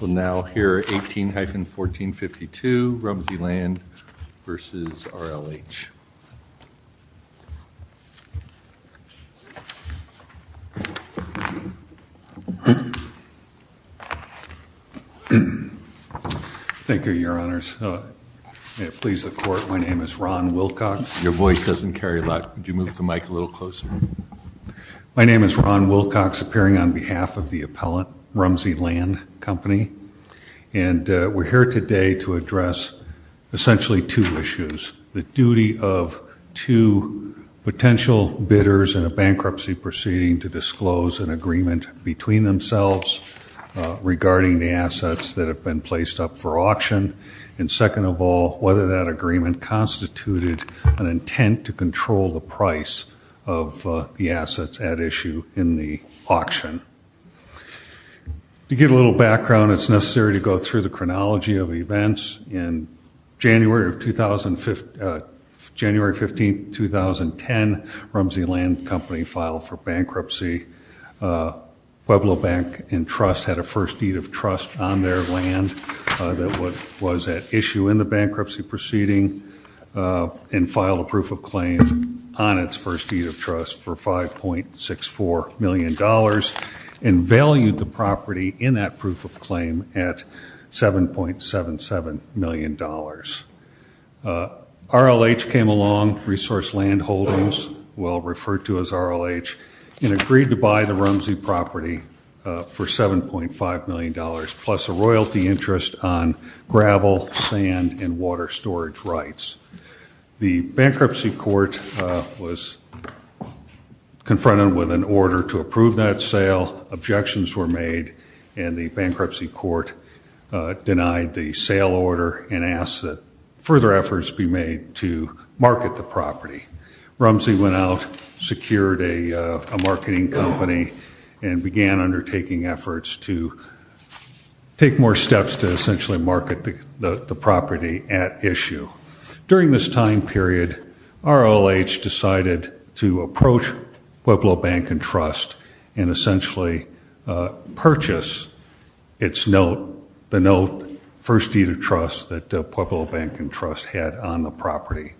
We'll now hear 18-1452, Rumsey Land v. RLH Thank you, your honors. May it please the court, my name is Ron Wilcox. Your voice doesn't carry a lot. Would you move the My name is Ron Wilcox, appearing on behalf of the appellant, Rumsey Land Company, and we're here today to address essentially two issues. The duty of two potential bidders in a bankruptcy proceeding to disclose an agreement between themselves regarding the assets that have been placed up for auction, and second of all, whether that agreement constituted an intent to control the assets at issue in the auction. To give a little background, it's necessary to go through the chronology of events. In January of 2015, January 15, 2010, Rumsey Land Company filed for bankruptcy. Pueblo Bank and Trust had a first deed of trust on their land that was at issue in the bankruptcy proceeding, and $5.64 million, and valued the property in that proof of claim at $7.77 million. RLH came along, Resource Land Holdings, well referred to as RLH, and agreed to buy the Rumsey property for $7.5 million, plus a royalty interest on confronting with an order to approve that sale. Objections were made, and the bankruptcy court denied the sale order and asked that further efforts be made to market the property. Rumsey went out, secured a marketing company, and began undertaking efforts to take more steps to essentially market the property at Pueblo Bank and Trust, and essentially purchase its note, the note, first deed of trust that Pueblo Bank and Trust had on the property.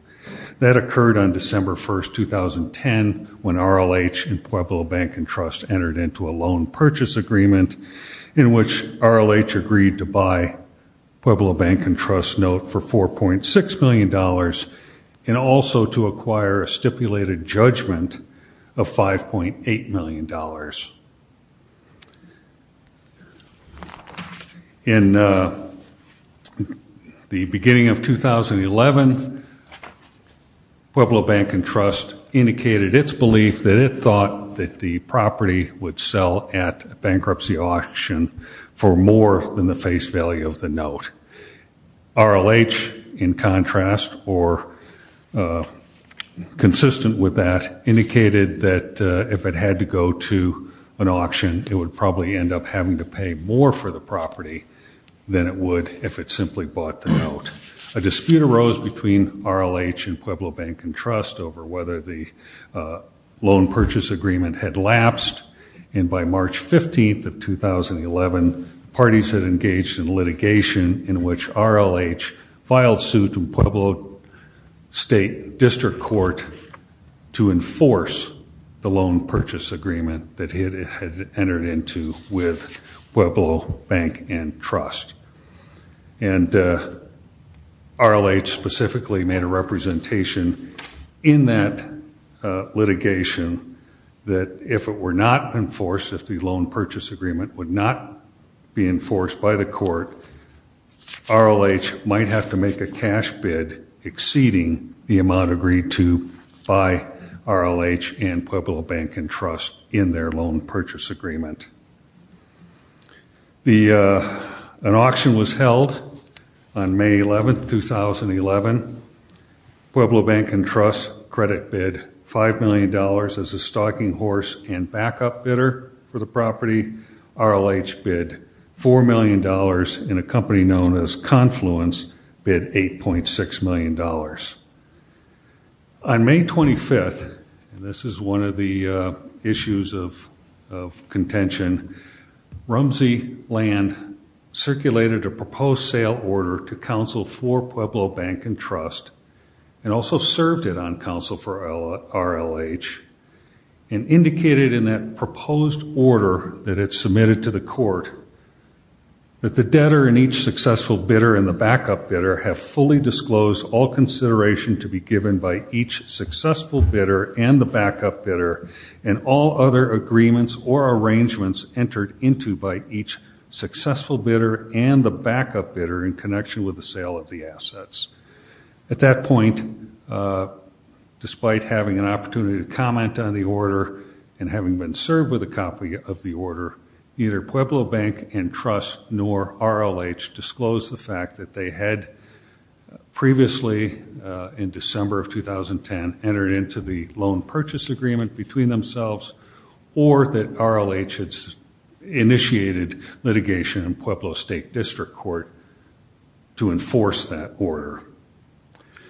That occurred on December 1st, 2010, when RLH and Pueblo Bank and Trust entered into a loan purchase agreement in which RLH agreed to buy Pueblo Bank and Trust's note for $4.6 million, and also to acquire a stipulated judgment of $5.8 million. In the beginning of 2011, Pueblo Bank and Trust indicated its belief that it thought that the property would sell at bankruptcy auction for more than the base value of the note. RLH, in contrast, or consistent with that, indicated that if it had to go to an auction, it would probably end up having to pay more for the property than it would if it simply bought the note. A dispute arose between RLH and Pueblo Bank and Trust over whether the loan purchase agreement had litigation in which RLH filed suit to Pueblo State District Court to enforce the loan purchase agreement that it had entered into with Pueblo Bank and Trust. And RLH specifically made a representation in that litigation that if it were not enforced, if the loan purchase agreement would not be enforced by the court, RLH might have to make a cash bid exceeding the amount agreed to by RLH and Pueblo Bank and Trust in their loan purchase agreement. An auction was held on May 11, 2011. Pueblo Bank and Trust credit bid $5 million as a stocking horse and backup bidder for the property. RLH bid $4 million in a company known as Confluence bid $8.6 million. On May 25th, and this is one of the issues of contention, Rumsey Land circulated a proposed sale order to counsel for Pueblo Bank and Trust and also served it on counsel for RLH and indicated in that proposed order that it submitted to the court that the debtor in each successful bidder and the backup bidder have fully disclosed all consideration to be given by each successful bidder and the backup bidder and all other agreements or arrangements entered into by each successful bidder and the backup bidder in connection with the sale of the assets. At that point, despite having an opportunity to comment on the order and having been served with a copy of the order, neither Pueblo Bank and Trust nor RLH disclosed the fact that they had previously, in December of 2010, entered into the loan purchase agreement between themselves or that RLH had initiated litigation in Pueblo State District Court to enforce that order.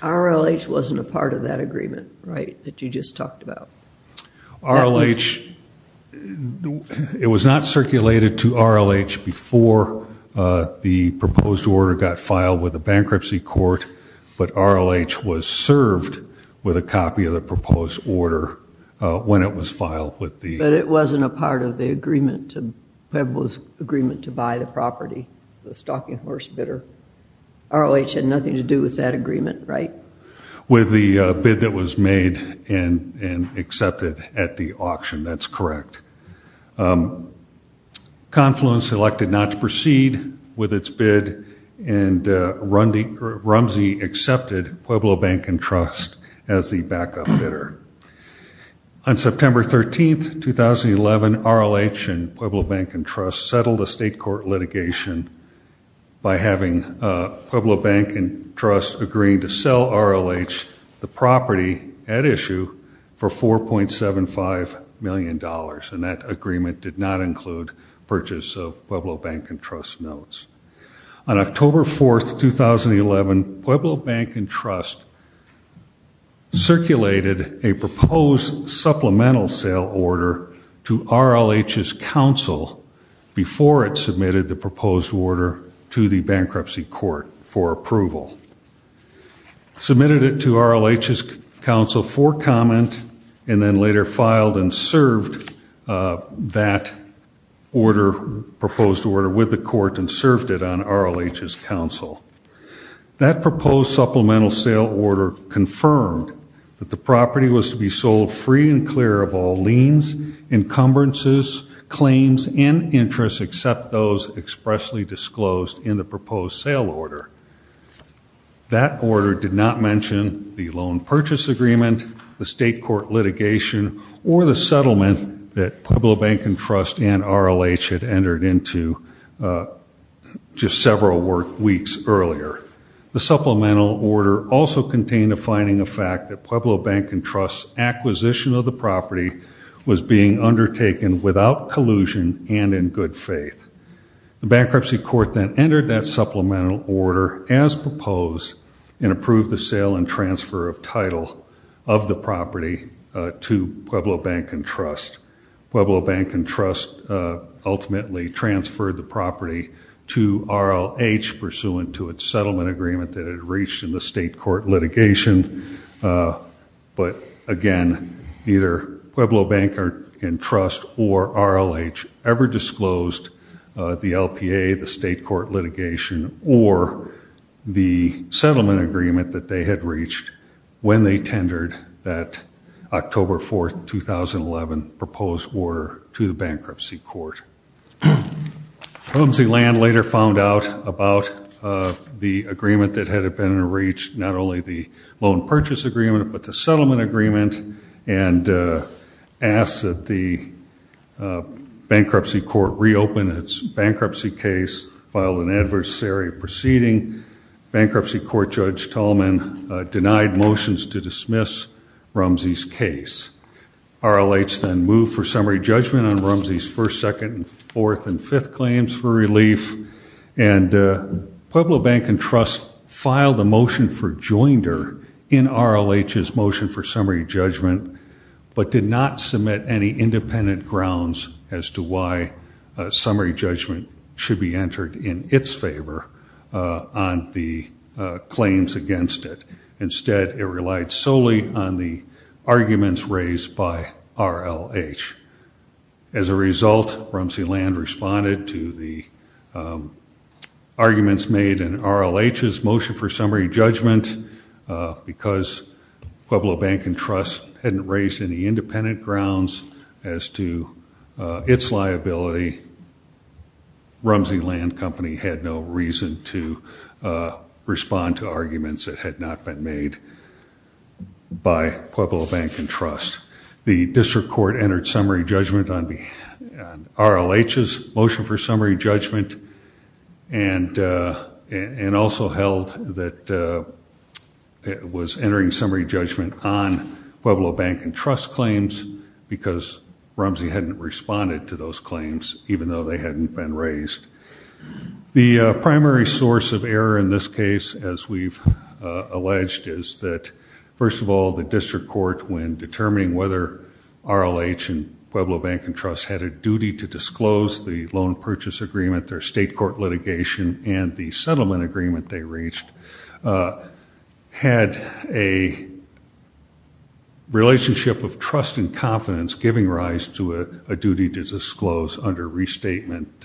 RLH wasn't a part of that agreement, right, that you just talked about. RLH, it was not circulated to RLH before the proposed order got filed with a bankruptcy court, but RLH was served with a copy of the proposed order when it was filed with the... But it wasn't a part of the agreement to Pueblo's agreement to buy the property, the stocking horse bidder. RLH had nothing to accept it at the auction, that's correct. Confluence elected not to proceed with its bid and Rumsey accepted Pueblo Bank and Trust as the backup bidder. On September 13, 2011, RLH and Pueblo Bank and Trust settled a state court litigation by having Pueblo Bank and Trust agreeing to sell RLH the property at issue for 4.75 million dollars and that agreement did not include purchase of Pueblo Bank and Trust notes. On October 4, 2011, Pueblo Bank and Trust circulated a proposed supplemental sale order to RLH's counsel before it submitted the proposed order to the bankruptcy court for approval. Submitted it to RLH's counsel for comment and then later filed and served that order, proposed order, with the court and served it on RLH's counsel. That proposed supplemental sale order confirmed that the property was to be sold free and clear of all liens, encumbrances, claims, and interests except those expressly disclosed in the proposed sale order. That order did not mention the loan purchase agreement, the state court litigation, or the settlement that Pueblo Bank and Trust and RLH had entered into just several weeks earlier. The supplemental order also contained a finding of fact that Pueblo Bank and Trust's acquisition of the property was being undertaken without collusion and in good faith. The bankruptcy court then entered that transfer of title of the property to Pueblo Bank and Trust. Pueblo Bank and Trust ultimately transferred the property to RLH pursuant to its settlement agreement that had reached in the state court litigation, but again neither Pueblo Bank and Trust or RLH ever disclosed the LPA, the state court litigation, or the settlement agreement that they had reached when they tendered that October 4th, 2011 proposed order to the bankruptcy court. Holmes E. Land later found out about the agreement that had been reached, not only the loan purchase agreement, but the settlement agreement, and asked that the bankruptcy court reopen its bankruptcy case, filed an adversary proceeding. Bankruptcy Court Judge Tallman denied motions to dismiss Rumsey's case. RLH then moved for summary judgment on Rumsey's first, second, and fourth, and fifth claims for relief, and Pueblo Bank and Trust filed a motion for joinder in RLH's motion for summary judgment should be entered in its favor on the claims against it. Instead, it relied solely on the arguments raised by RLH. As a result, Rumsey Land responded to the arguments made in RLH's motion for summary judgment because Pueblo Bank and Trust hadn't raised any independent grounds as to its liability. Rumsey Land Company had no reason to respond to arguments that had not been made by Pueblo Bank and Trust. The district court entered summary judgment on RLH's motion for summary judgment, and also held that it was entering summary judgment on Pueblo Bank and Trust claims because Rumsey hadn't responded to those claims, even though they hadn't been raised. The primary source of error in this case, as we've alleged, is that, first of all, the district court, when determining whether RLH and Pueblo Bank and Trust had a duty to disclose the loan purchase agreement, their state court litigation, and the settlement agreement they reached, had a relationship of trust and confidence giving rise to a duty to disclose under restatement,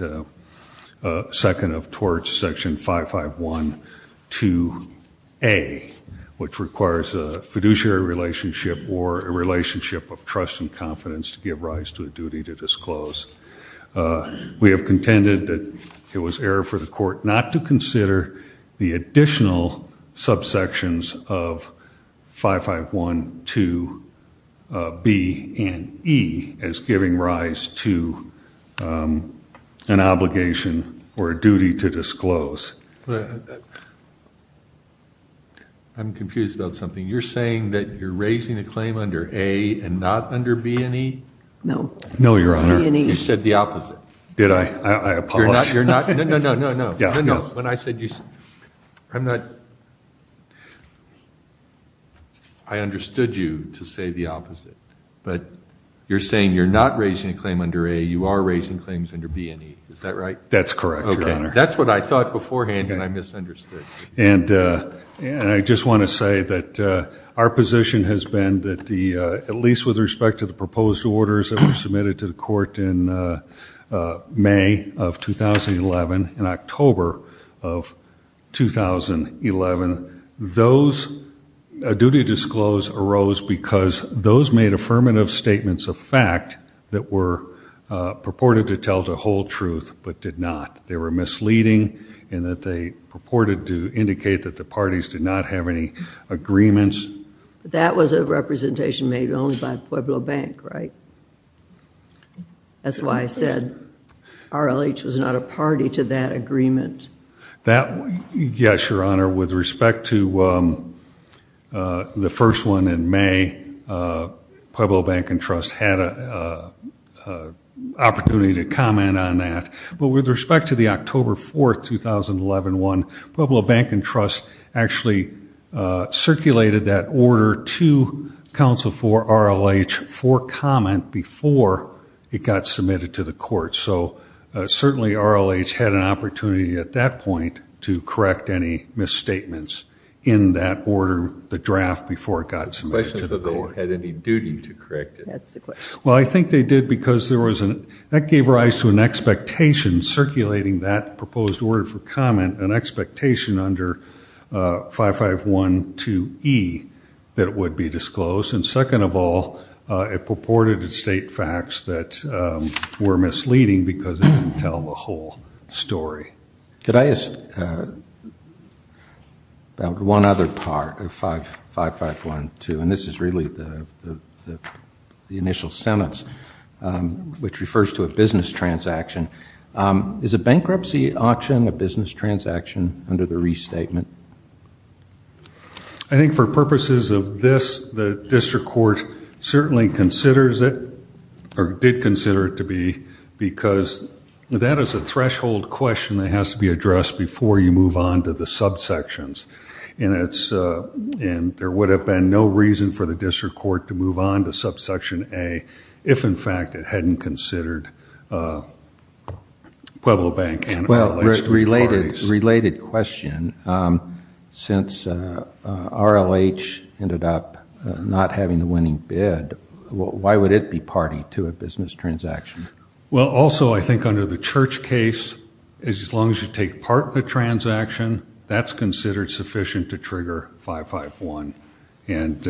second of torts, section 551 2A, which requires a fiduciary relationship or a relationship of trust and confidence to give rise to a duty to disclose. We have contended that it was error for the court not to consider the additional subsections of 551 2B and 2E as giving rise to an obligation or a duty to disclose. I'm confused about something. You're saying that you're raising a claim under A and not under B and E? No. No, Your Honor. You said the opposite. Did I? I apologize. No, no, I understood you to say the opposite, but you're saying you're not raising a claim under A, you are raising claims under B and E, is that right? That's correct, Your Honor. That's what I thought beforehand and I misunderstood. And I just want to say that our position has been that the, at least with respect to the proposed orders that were submitted to the court in May of 2011, in October of 2011, those, a duty to disclose arose because those made affirmative statements of fact that were purported to tell the whole truth but did not. They were misleading and that they purported to indicate that the parties did not have any agreements. That was a representation made only by Pueblo Bank, right? That's why I said RLH was not a party to that agreement. That, yes, Your Honor, with respect to the first one in May, Pueblo Bank and Trust had a opportunity to comment on that, but with respect to the October 4th, 2011 one, Pueblo Bank and Circulated that order to counsel for RLH for comment before it got submitted to the court. So certainly RLH had an opportunity at that point to correct any misstatements in that order, the draft, before it got submitted to the court. The question is if the goer had any duty to correct it. That's the question. Well, I think they did because there was an, that gave rise to an expectation circulating that proposed order for comment, an expectation under 5512E, that it would be disclosed. And second of all, it purported to state facts that were misleading because it didn't tell the whole story. Could I ask about one other part of 5512, and this is really the initial sentence, which refers to a business transaction. Is a bankruptcy auction a business transaction under the restatement? I think for purposes of this, the district court certainly considers it, or did consider it to be, because that is a threshold question that has to be addressed before you move on to the subsections. And it's, and there would have been no reason for the district court to move on to subsection A if in fact it hadn't considered Pueblo Bank and RLH to be parties. Well, related question, since RLH ended up not having the winning bid, why would it be party to a business transaction? Well, also I think under the Church case, as long as you take part in a transaction, that's considered sufficient to trigger 551. And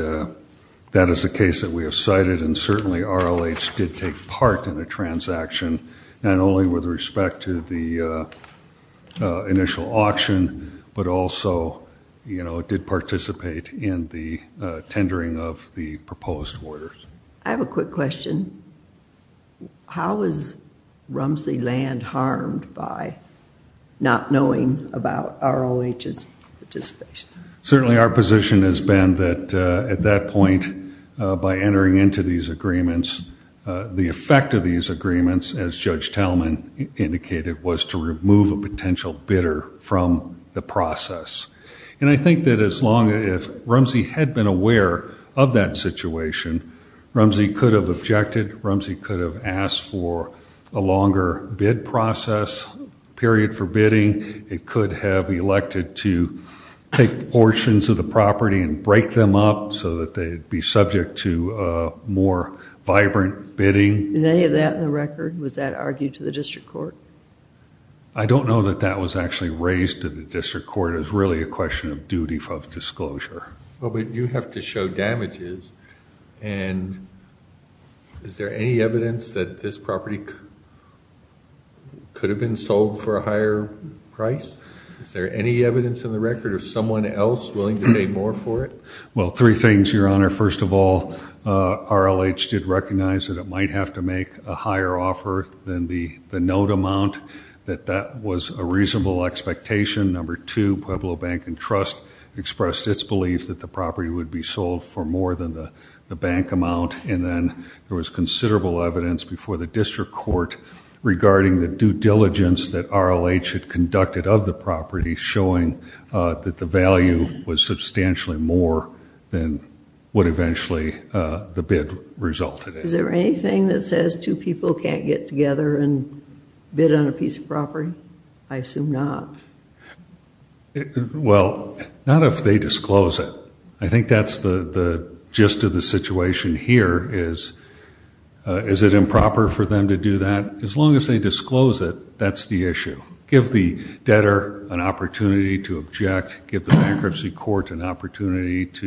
that is the case that we have cited, and certainly RLH did take part in a transaction, not only with respect to the initial auction, but also, you know, it did participate in the tendering of the proposed orders. I have a quick question. How is Rumsey Land harmed by not knowing about RLH's participation? Certainly our position has been that at that point, by entering into these agreements, the effect of these agreements, as Judge removed a potential bidder from the process. And I think that as long as Rumsey had been aware of that situation, Rumsey could have objected. Rumsey could have asked for a longer bid process, period for bidding. It could have elected to take portions of the property and break them up so that they'd be subject to more vibrant bidding. Is any of that in the record? Was that argued to the district court? I don't know that that was actually raised to the district court. It's really a question of duty of disclosure. Well, but you have to show damages, and is there any evidence that this property could have been sold for a higher price? Is there any evidence in the record of someone else willing to pay more for it? Well, three things, Your Honor. First of all, RLH did recognize that it might have to make a higher offer than the note amount, that that was a reasonable expectation. Number two, Pueblo Bank and Trust expressed its belief that the property would be sold for more than the bank amount, and then there was considerable evidence before the district court regarding the due diligence that RLH had conducted of the property, showing that the value was substantially more than what eventually the bid resulted in. Is there anything that says two people can't get together and bid on a piece of property? I assume not. Well, not if they disclose it. I think that's the gist of the situation here is, is it improper for them to do that? As long as they disclose it, that's the issue. Give the debtor an opportunity to object, give the bankruptcy court an opportunity. It's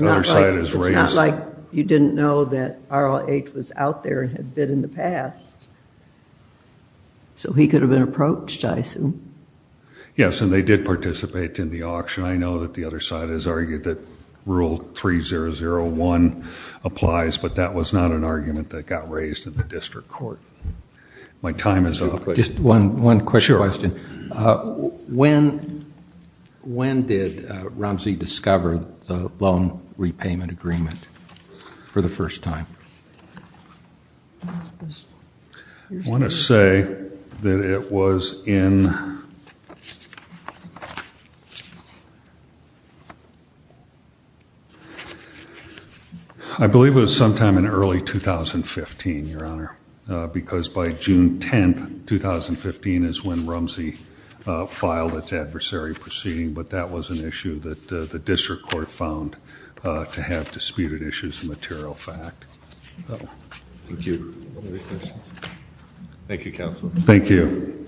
not like you didn't know that RLH was out there and had bid in the past, so he could have been approached, I assume. Yes, and they did participate in the auction. I know that the other side has argued that Rule 3001 applies, but that was not an argument that got raised in the district court. My time is up. Just one repayment agreement for the first time. I want to say that it was in, I believe it was sometime in early 2015, your honor, because by June 10, 2015 is when Rumsey filed its adversary proceeding, but that was an issue that the district court found to have disputed issues of material fact. Thank you. Thank you, counsel. Thank you.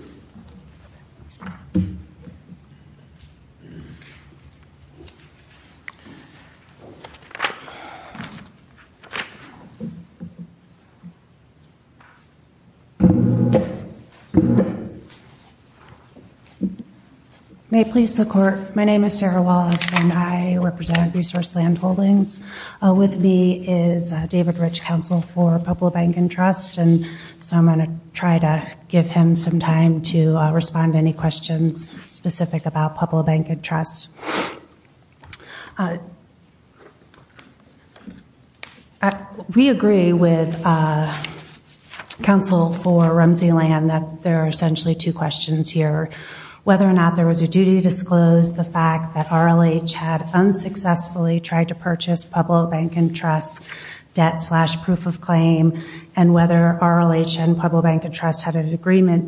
May it please the court, my name is Sarah Wallace, and I represent Resource Land Holdings. With me is David Rich, counsel for Pueblo Bank and Trust, and so I'm going to try to give him some time to respond to questions specific about Pueblo Bank and Trust. We agree with counsel for Rumsey Land that there are essentially two questions here, whether or not there was a duty to disclose the fact that RLH had unsuccessfully tried to purchase Pueblo Bank and Trust debt slash proof of claim, and whether RLH and Pueblo Bank and the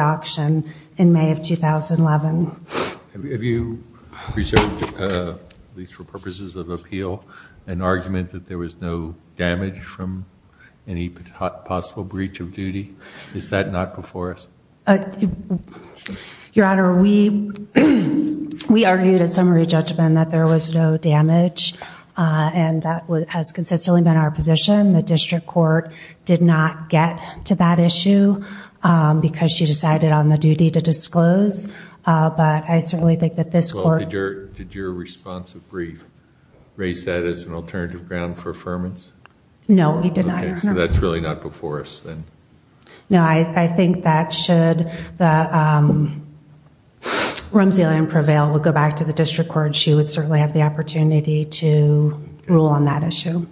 auction in May of 2011. Have you reserved, at least for purposes of appeal, an argument that there was no damage from any possible breach of duty? Is that not before us? Your honor, we argued in summary judgment that there was no damage, and that has consistently been our position. The district court did not get to that issue because she decided on the duty to disclose, but I certainly think that this court... Well, did your response raise that as an alternative ground for affirmance? No, we did not, your honor. Okay, so that's really not before us, then. No, I think that should the Rumsey-Allen prevail, we'll go back to the district court, she would certainly have the opportunity to rule on that issue.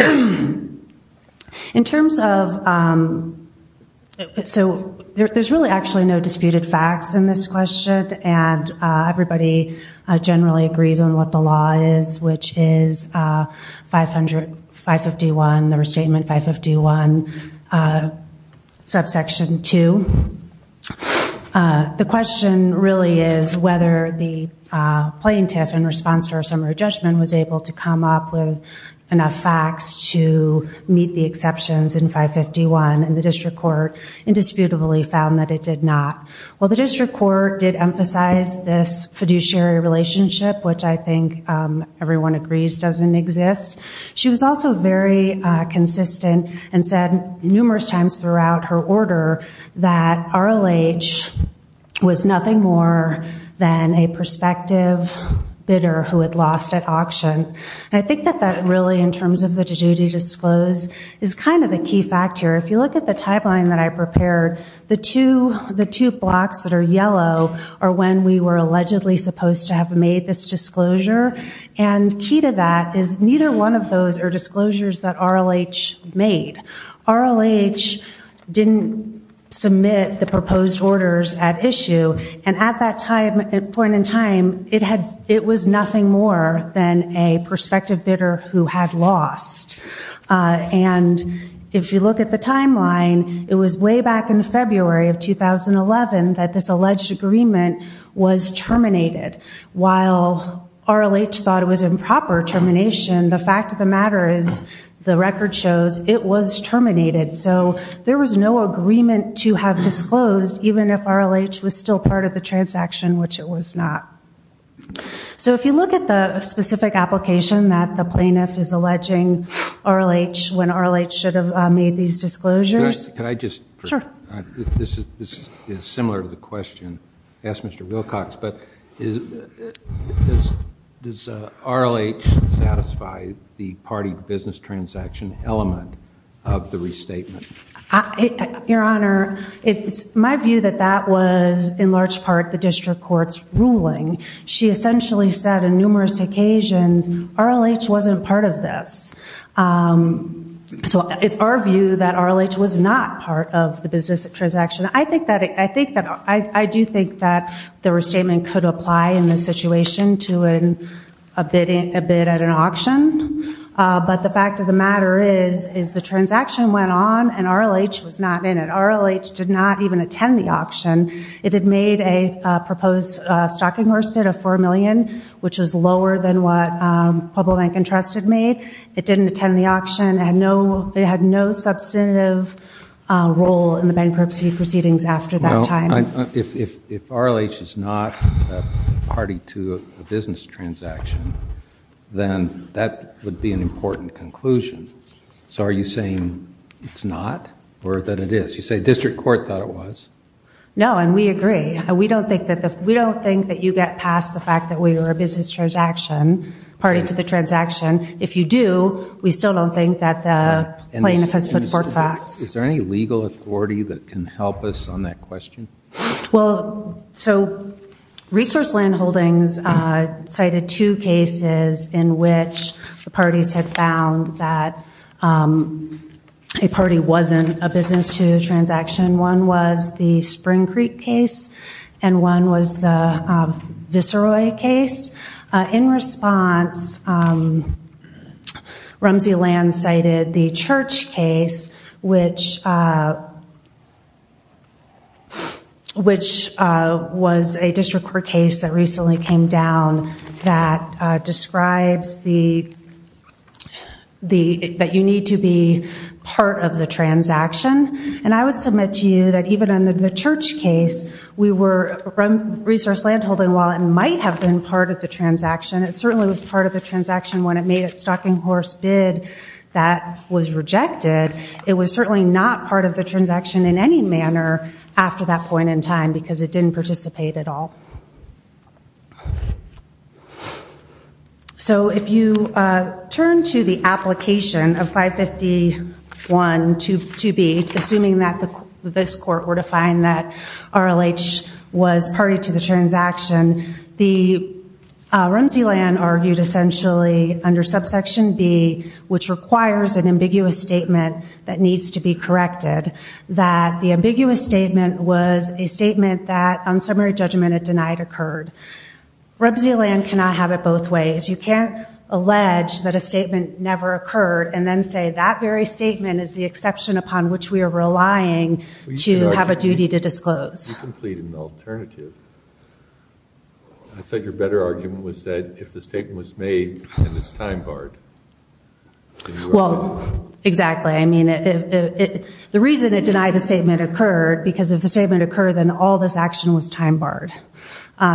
In terms of... So there's really actually no disputed facts in this question, and everybody generally agrees on what the law is, which is 500, 551, the restatement 551, subsection 2. The question really is whether the plaintiff, in response to our summary judgment, was able to come up with enough facts to meet the exceptions in 551, and the district court indisputably found that it did not. Well, the district court did emphasize this fiduciary relationship, which I think everyone agrees doesn't exist. She was also very consistent and said numerous times throughout her order that RLH was nothing more than a prospective bidder who had lost at auction. And I think that that really, in terms of the duty to disclose, is kind of a key factor. If you look at the timeline that I prepared, the two blocks that are yellow are when we were allegedly supposed to have made this disclosure, and key to that is neither one of those are disclosures that RLH made. RLH didn't submit the proposed orders at issue, and at that point in time, it was nothing more than a prospective bidder who had lost. And if you look at the timeline, it was way back in February of 2011 that this alleged agreement was terminated. While RLH thought it was improper termination, the fact of the matter is the record shows it was terminated. So there was no agreement to have disclosed, even if RLH was still part of the transaction, which it was not. So if you look at the specific application that the plaintiff is alleging RLH, when RLH should have made these disclosures. Could I just, this is similar to the question I asked Mr. Wilcox, but does RLH satisfy the party business transaction element of the restatement? Your Honor, it's my view that that was, in large part, the district court's ruling. She essentially said on numerous occasions, RLH wasn't part of this. So it's our view that RLH was not part of the business transaction. I do think that the restatement could apply in this situation to a bid at an auction. But the fact of the matter is, is the transaction went on and RLH was not in it. RLH did not even attend the auction. It had made a proposed stocking horse bid of $4 million, which was lower than what Pueblo Bank and Trust had made. It didn't attend the auction. It had no substantive role in the bankruptcy proceedings after that time. If RLH is not a party to a business transaction, then that would be an important conclusion. So are you saying it's not, or that it is? You say district court thought it was? No, and we agree. We don't think that you get past the fact that we were a business transaction, party to the transaction. If you do, we still don't think that the plaintiff has put forth facts. Is there any legal authority that can help us on that question? Well, so Resource Land Holdings cited two cases in which the parties had found that a party wasn't a business to the transaction. One was the Spring Creek case, and one was the Visceroy case. In response, Rumsey Land cited the Church case, which was a district court case that recently came down that describes that you need to be part of the transaction. And I would submit to you that even under the Church case, Resource Land Holding might have been part of the transaction. It certainly was part of the transaction when it made its stocking horse bid that was rejected. It was certainly not part of the transaction in any manner after that point in time because it didn't participate at all. So if you turn to the application of 551.2b, assuming that this court were to find that RLH was party to the transaction, the Rumsey Land argued essentially under subsection b, which requires an ambiguous statement that needs to be corrected, that the ambiguous statement was a statement that on summary judgment it denied occurred. Rumsey Land cannot have it both ways. You can't allege that a statement never occurred and then say that very statement is the exception upon which we are relying to have a duty to disclose. You completed an alternative. I thought your better argument was that if the statement was made and it's time barred, then you were right. Exactly. The reason it denied the statement occurred because if the statement occurred, then all this action was time barred.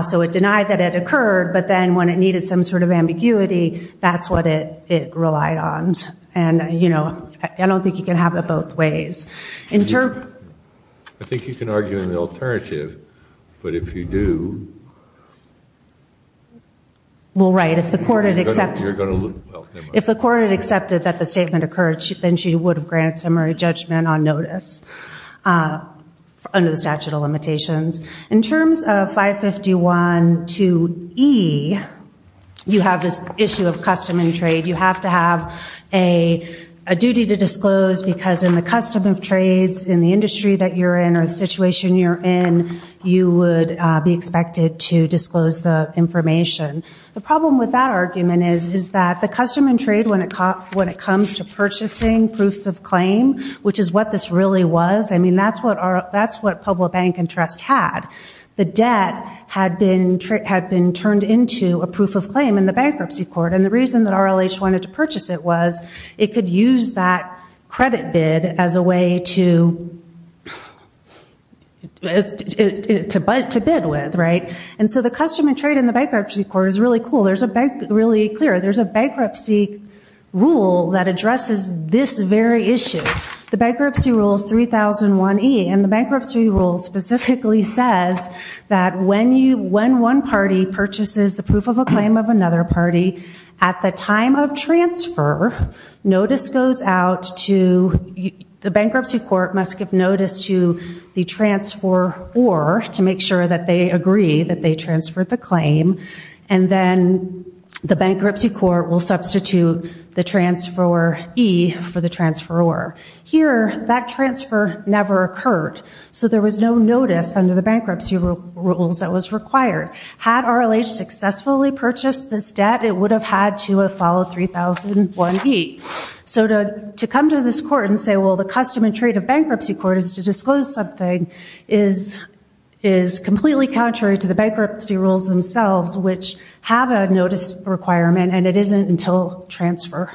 So it denied that it occurred, but then when it needed some sort of ambiguity, that's what it relied on. I don't think you can have it both ways. I think you can argue an alternative, but if you do... Well, right. If the court had accepted that the statement occurred, then she would have granted summary judgment on notice under the statute of limitations. In terms of 551.2e, you have this issue of custom and trade. You have to have a duty to disclose because in the custom of trades in the industry that you're in or the situation you're in, you would be expected to disclose the information. The problem with that argument is that the custom and trade when it comes to purchasing proofs of claim, which is what this really was, that's what Pueblo Bank and Trust had. The debt had been turned into a proof of claim in the bankruptcy court. The reason that RLH wanted to purchase it was it could use that credit bid as a way to bid with. The custom and trade in the bankruptcy court is really cool. There's a bankruptcy rule that addresses this very issue. The bankruptcy rule is 3001e, and the bankruptcy rule specifically says that when one party purchases the proof of a claim of another party, at the time of transfer, the bankruptcy court must give notice to the transferor to make sure that they agree that they transferred the claim, and then the bankruptcy court will substitute the transferor e for the transferor. Here, that transfer never occurred, so there was no notice under the bankruptcy rules that was required. Had RLH successfully purchased this debt, it would have had to have followed 3001e. So to come to this court and say, well, the custom and trade of bankruptcy court is to disclose something is completely contrary to the bankruptcy rules themselves, which have a notice requirement, and it isn't until transfer.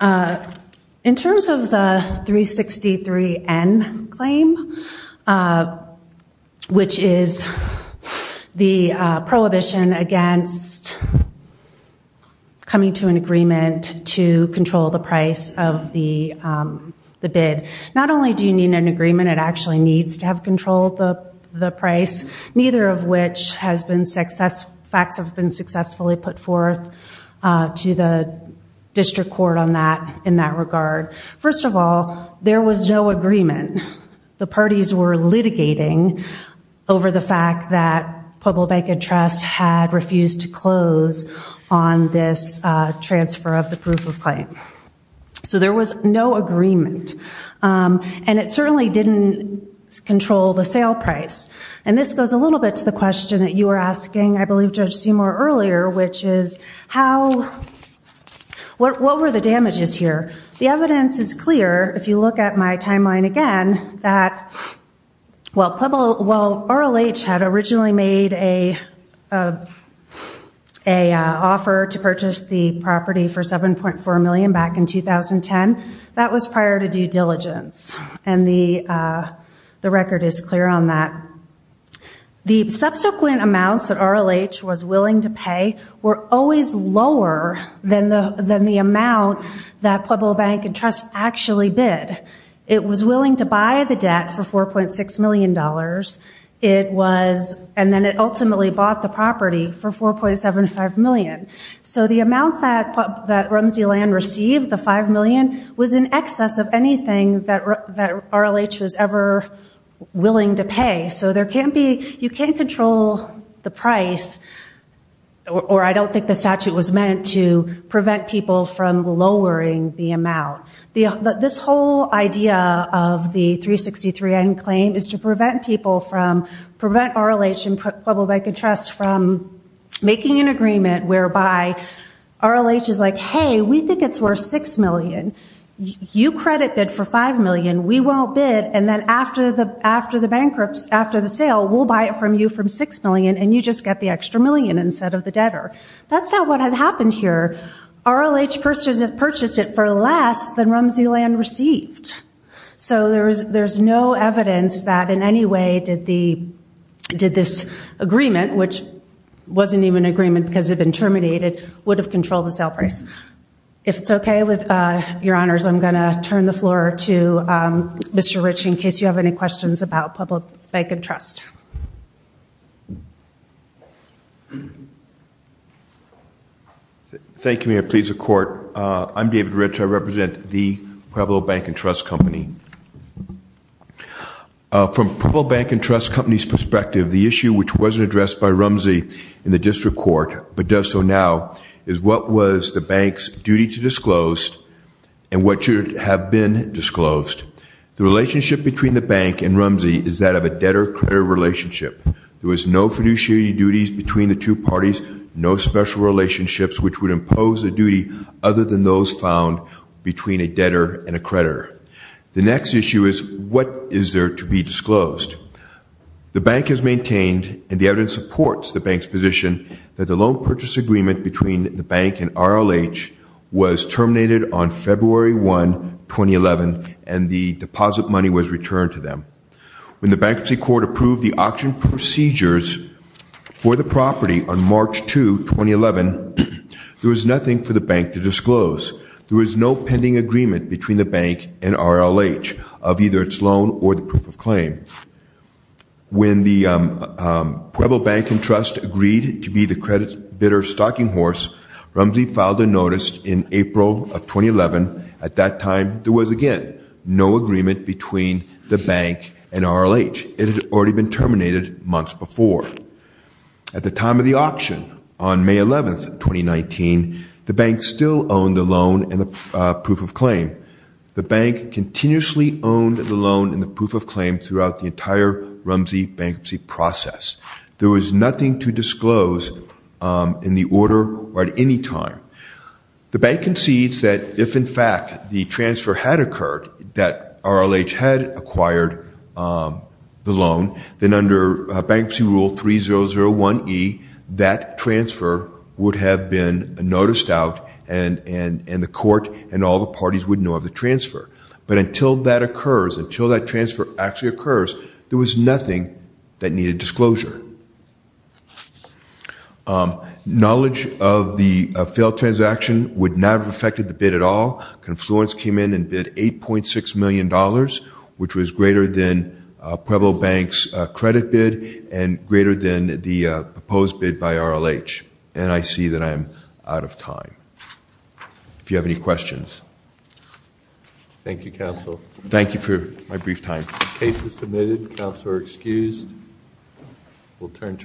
In terms of the 363n claim, which is the prohibition against coming to an agreement to control the price of the bid, not only do you need an agreement, it actually needs to have control of the price, neither of which has been successfully put forth to the district court in that regard. First of all, there was no agreement. The parties were litigating over the fact that Pueblo Bank and Trust had refused to close on this transfer of the proof of claim. So there was no agreement, and it certainly didn't control the sale price. And this goes a little bit to the question that you were asking, I believe, Judge Seymour, earlier, which is, what were the damages here? The evidence is clear, if you look at my timeline again, that while RLH had originally made an offer to purchase the property for $7.4 million back in 2010, that was prior to due diligence, and the record is clear on that. The subsequent amounts that RLH was willing to pay were always lower than the amount that Pueblo Bank and Trust actually bid. It was willing to buy the debt for $4.6 million, and then it ultimately bought the property for $4.75 million. So the amount that Rumsey Land received, the $5 million, was in excess of anything that RLH was ever willing to pay. So you can't control the price, or I don't think the statute was meant to prevent people from lowering the amount. This whole idea of the 363N claim is to prevent RLH and Pueblo Bank and Trust from making an agreement whereby RLH is like, hey, we think it's worth $6 million. You credit bid for $5 million. We won't bid, and then after the sale, we'll buy it from you for $6 million, and you just get the extra million instead of the debtor. That's not what has happened here. RLH purchased it for less than Rumsey Land received. So there's no evidence that in any way did this agreement, which wasn't even an agreement because it had been terminated, would have controlled the sale price. If it's okay with your honors, I'm going to turn the floor to Mr. Rich in case you have any questions about Pueblo Bank and Trust. Thank you, ma'am. Please, the court. I'm David Rich. I represent the Pueblo Bank and Trust Company. From Pueblo Bank and Trust Company's perspective, the issue which wasn't addressed by Rumsey in the district court but does so now is what was the bank's duty to disclose and what should have been disclosed. The relationship between the bank and Rumsey is that of a debtor-creditor relationship. There was no fiduciary duties between the two parties, no special relationships which would impose a duty other than those found between a debtor and a creditor. The next issue is what is there to be disclosed. The bank has maintained and the evidence supports the bank's position that the loan purchase agreement between the bank and RLH was terminated on February 1, 2011, and the deposit money was returned to them. When the bankruptcy court approved the auction procedures for the property on March 2, 2011, there was nothing for the bank to disclose. There was no pending agreement between the bank and RLH of either its loan or the proof of claim. When the Pueblo Bank and Trust agreed to be the credit bidder's stalking horse, Rumsey filed a notice in April of 2011. At that time, there was, again, no agreement between the bank and RLH. It had already been terminated months before. At the time of the auction on May 11, 2019, the bank still owned the loan and the proof of claim. The bank continuously owned the loan and the proof of claim throughout the entire Rumsey bankruptcy process. There was nothing to disclose in the order or at any time. The bank concedes that if, in fact, the transfer had occurred, that RLH had acquired the loan, then under Bankruptcy Rule 3001E, that transfer would have been noticed out and the court and all the parties would know of the transfer. But until that occurs, until that transfer actually occurs, there was nothing that needed disclosure. Knowledge of the failed transaction would not have affected the bid at all. Confluence came in and bid $8.6 million, which was greater than Pueblo Bank's credit bid and greater than the proposed bid by RLH. And I see that I am out of time. If you have any questions. Thank you, Counsel. Thank you for my brief time. Case is submitted. Counsel are excused. We'll turn to our.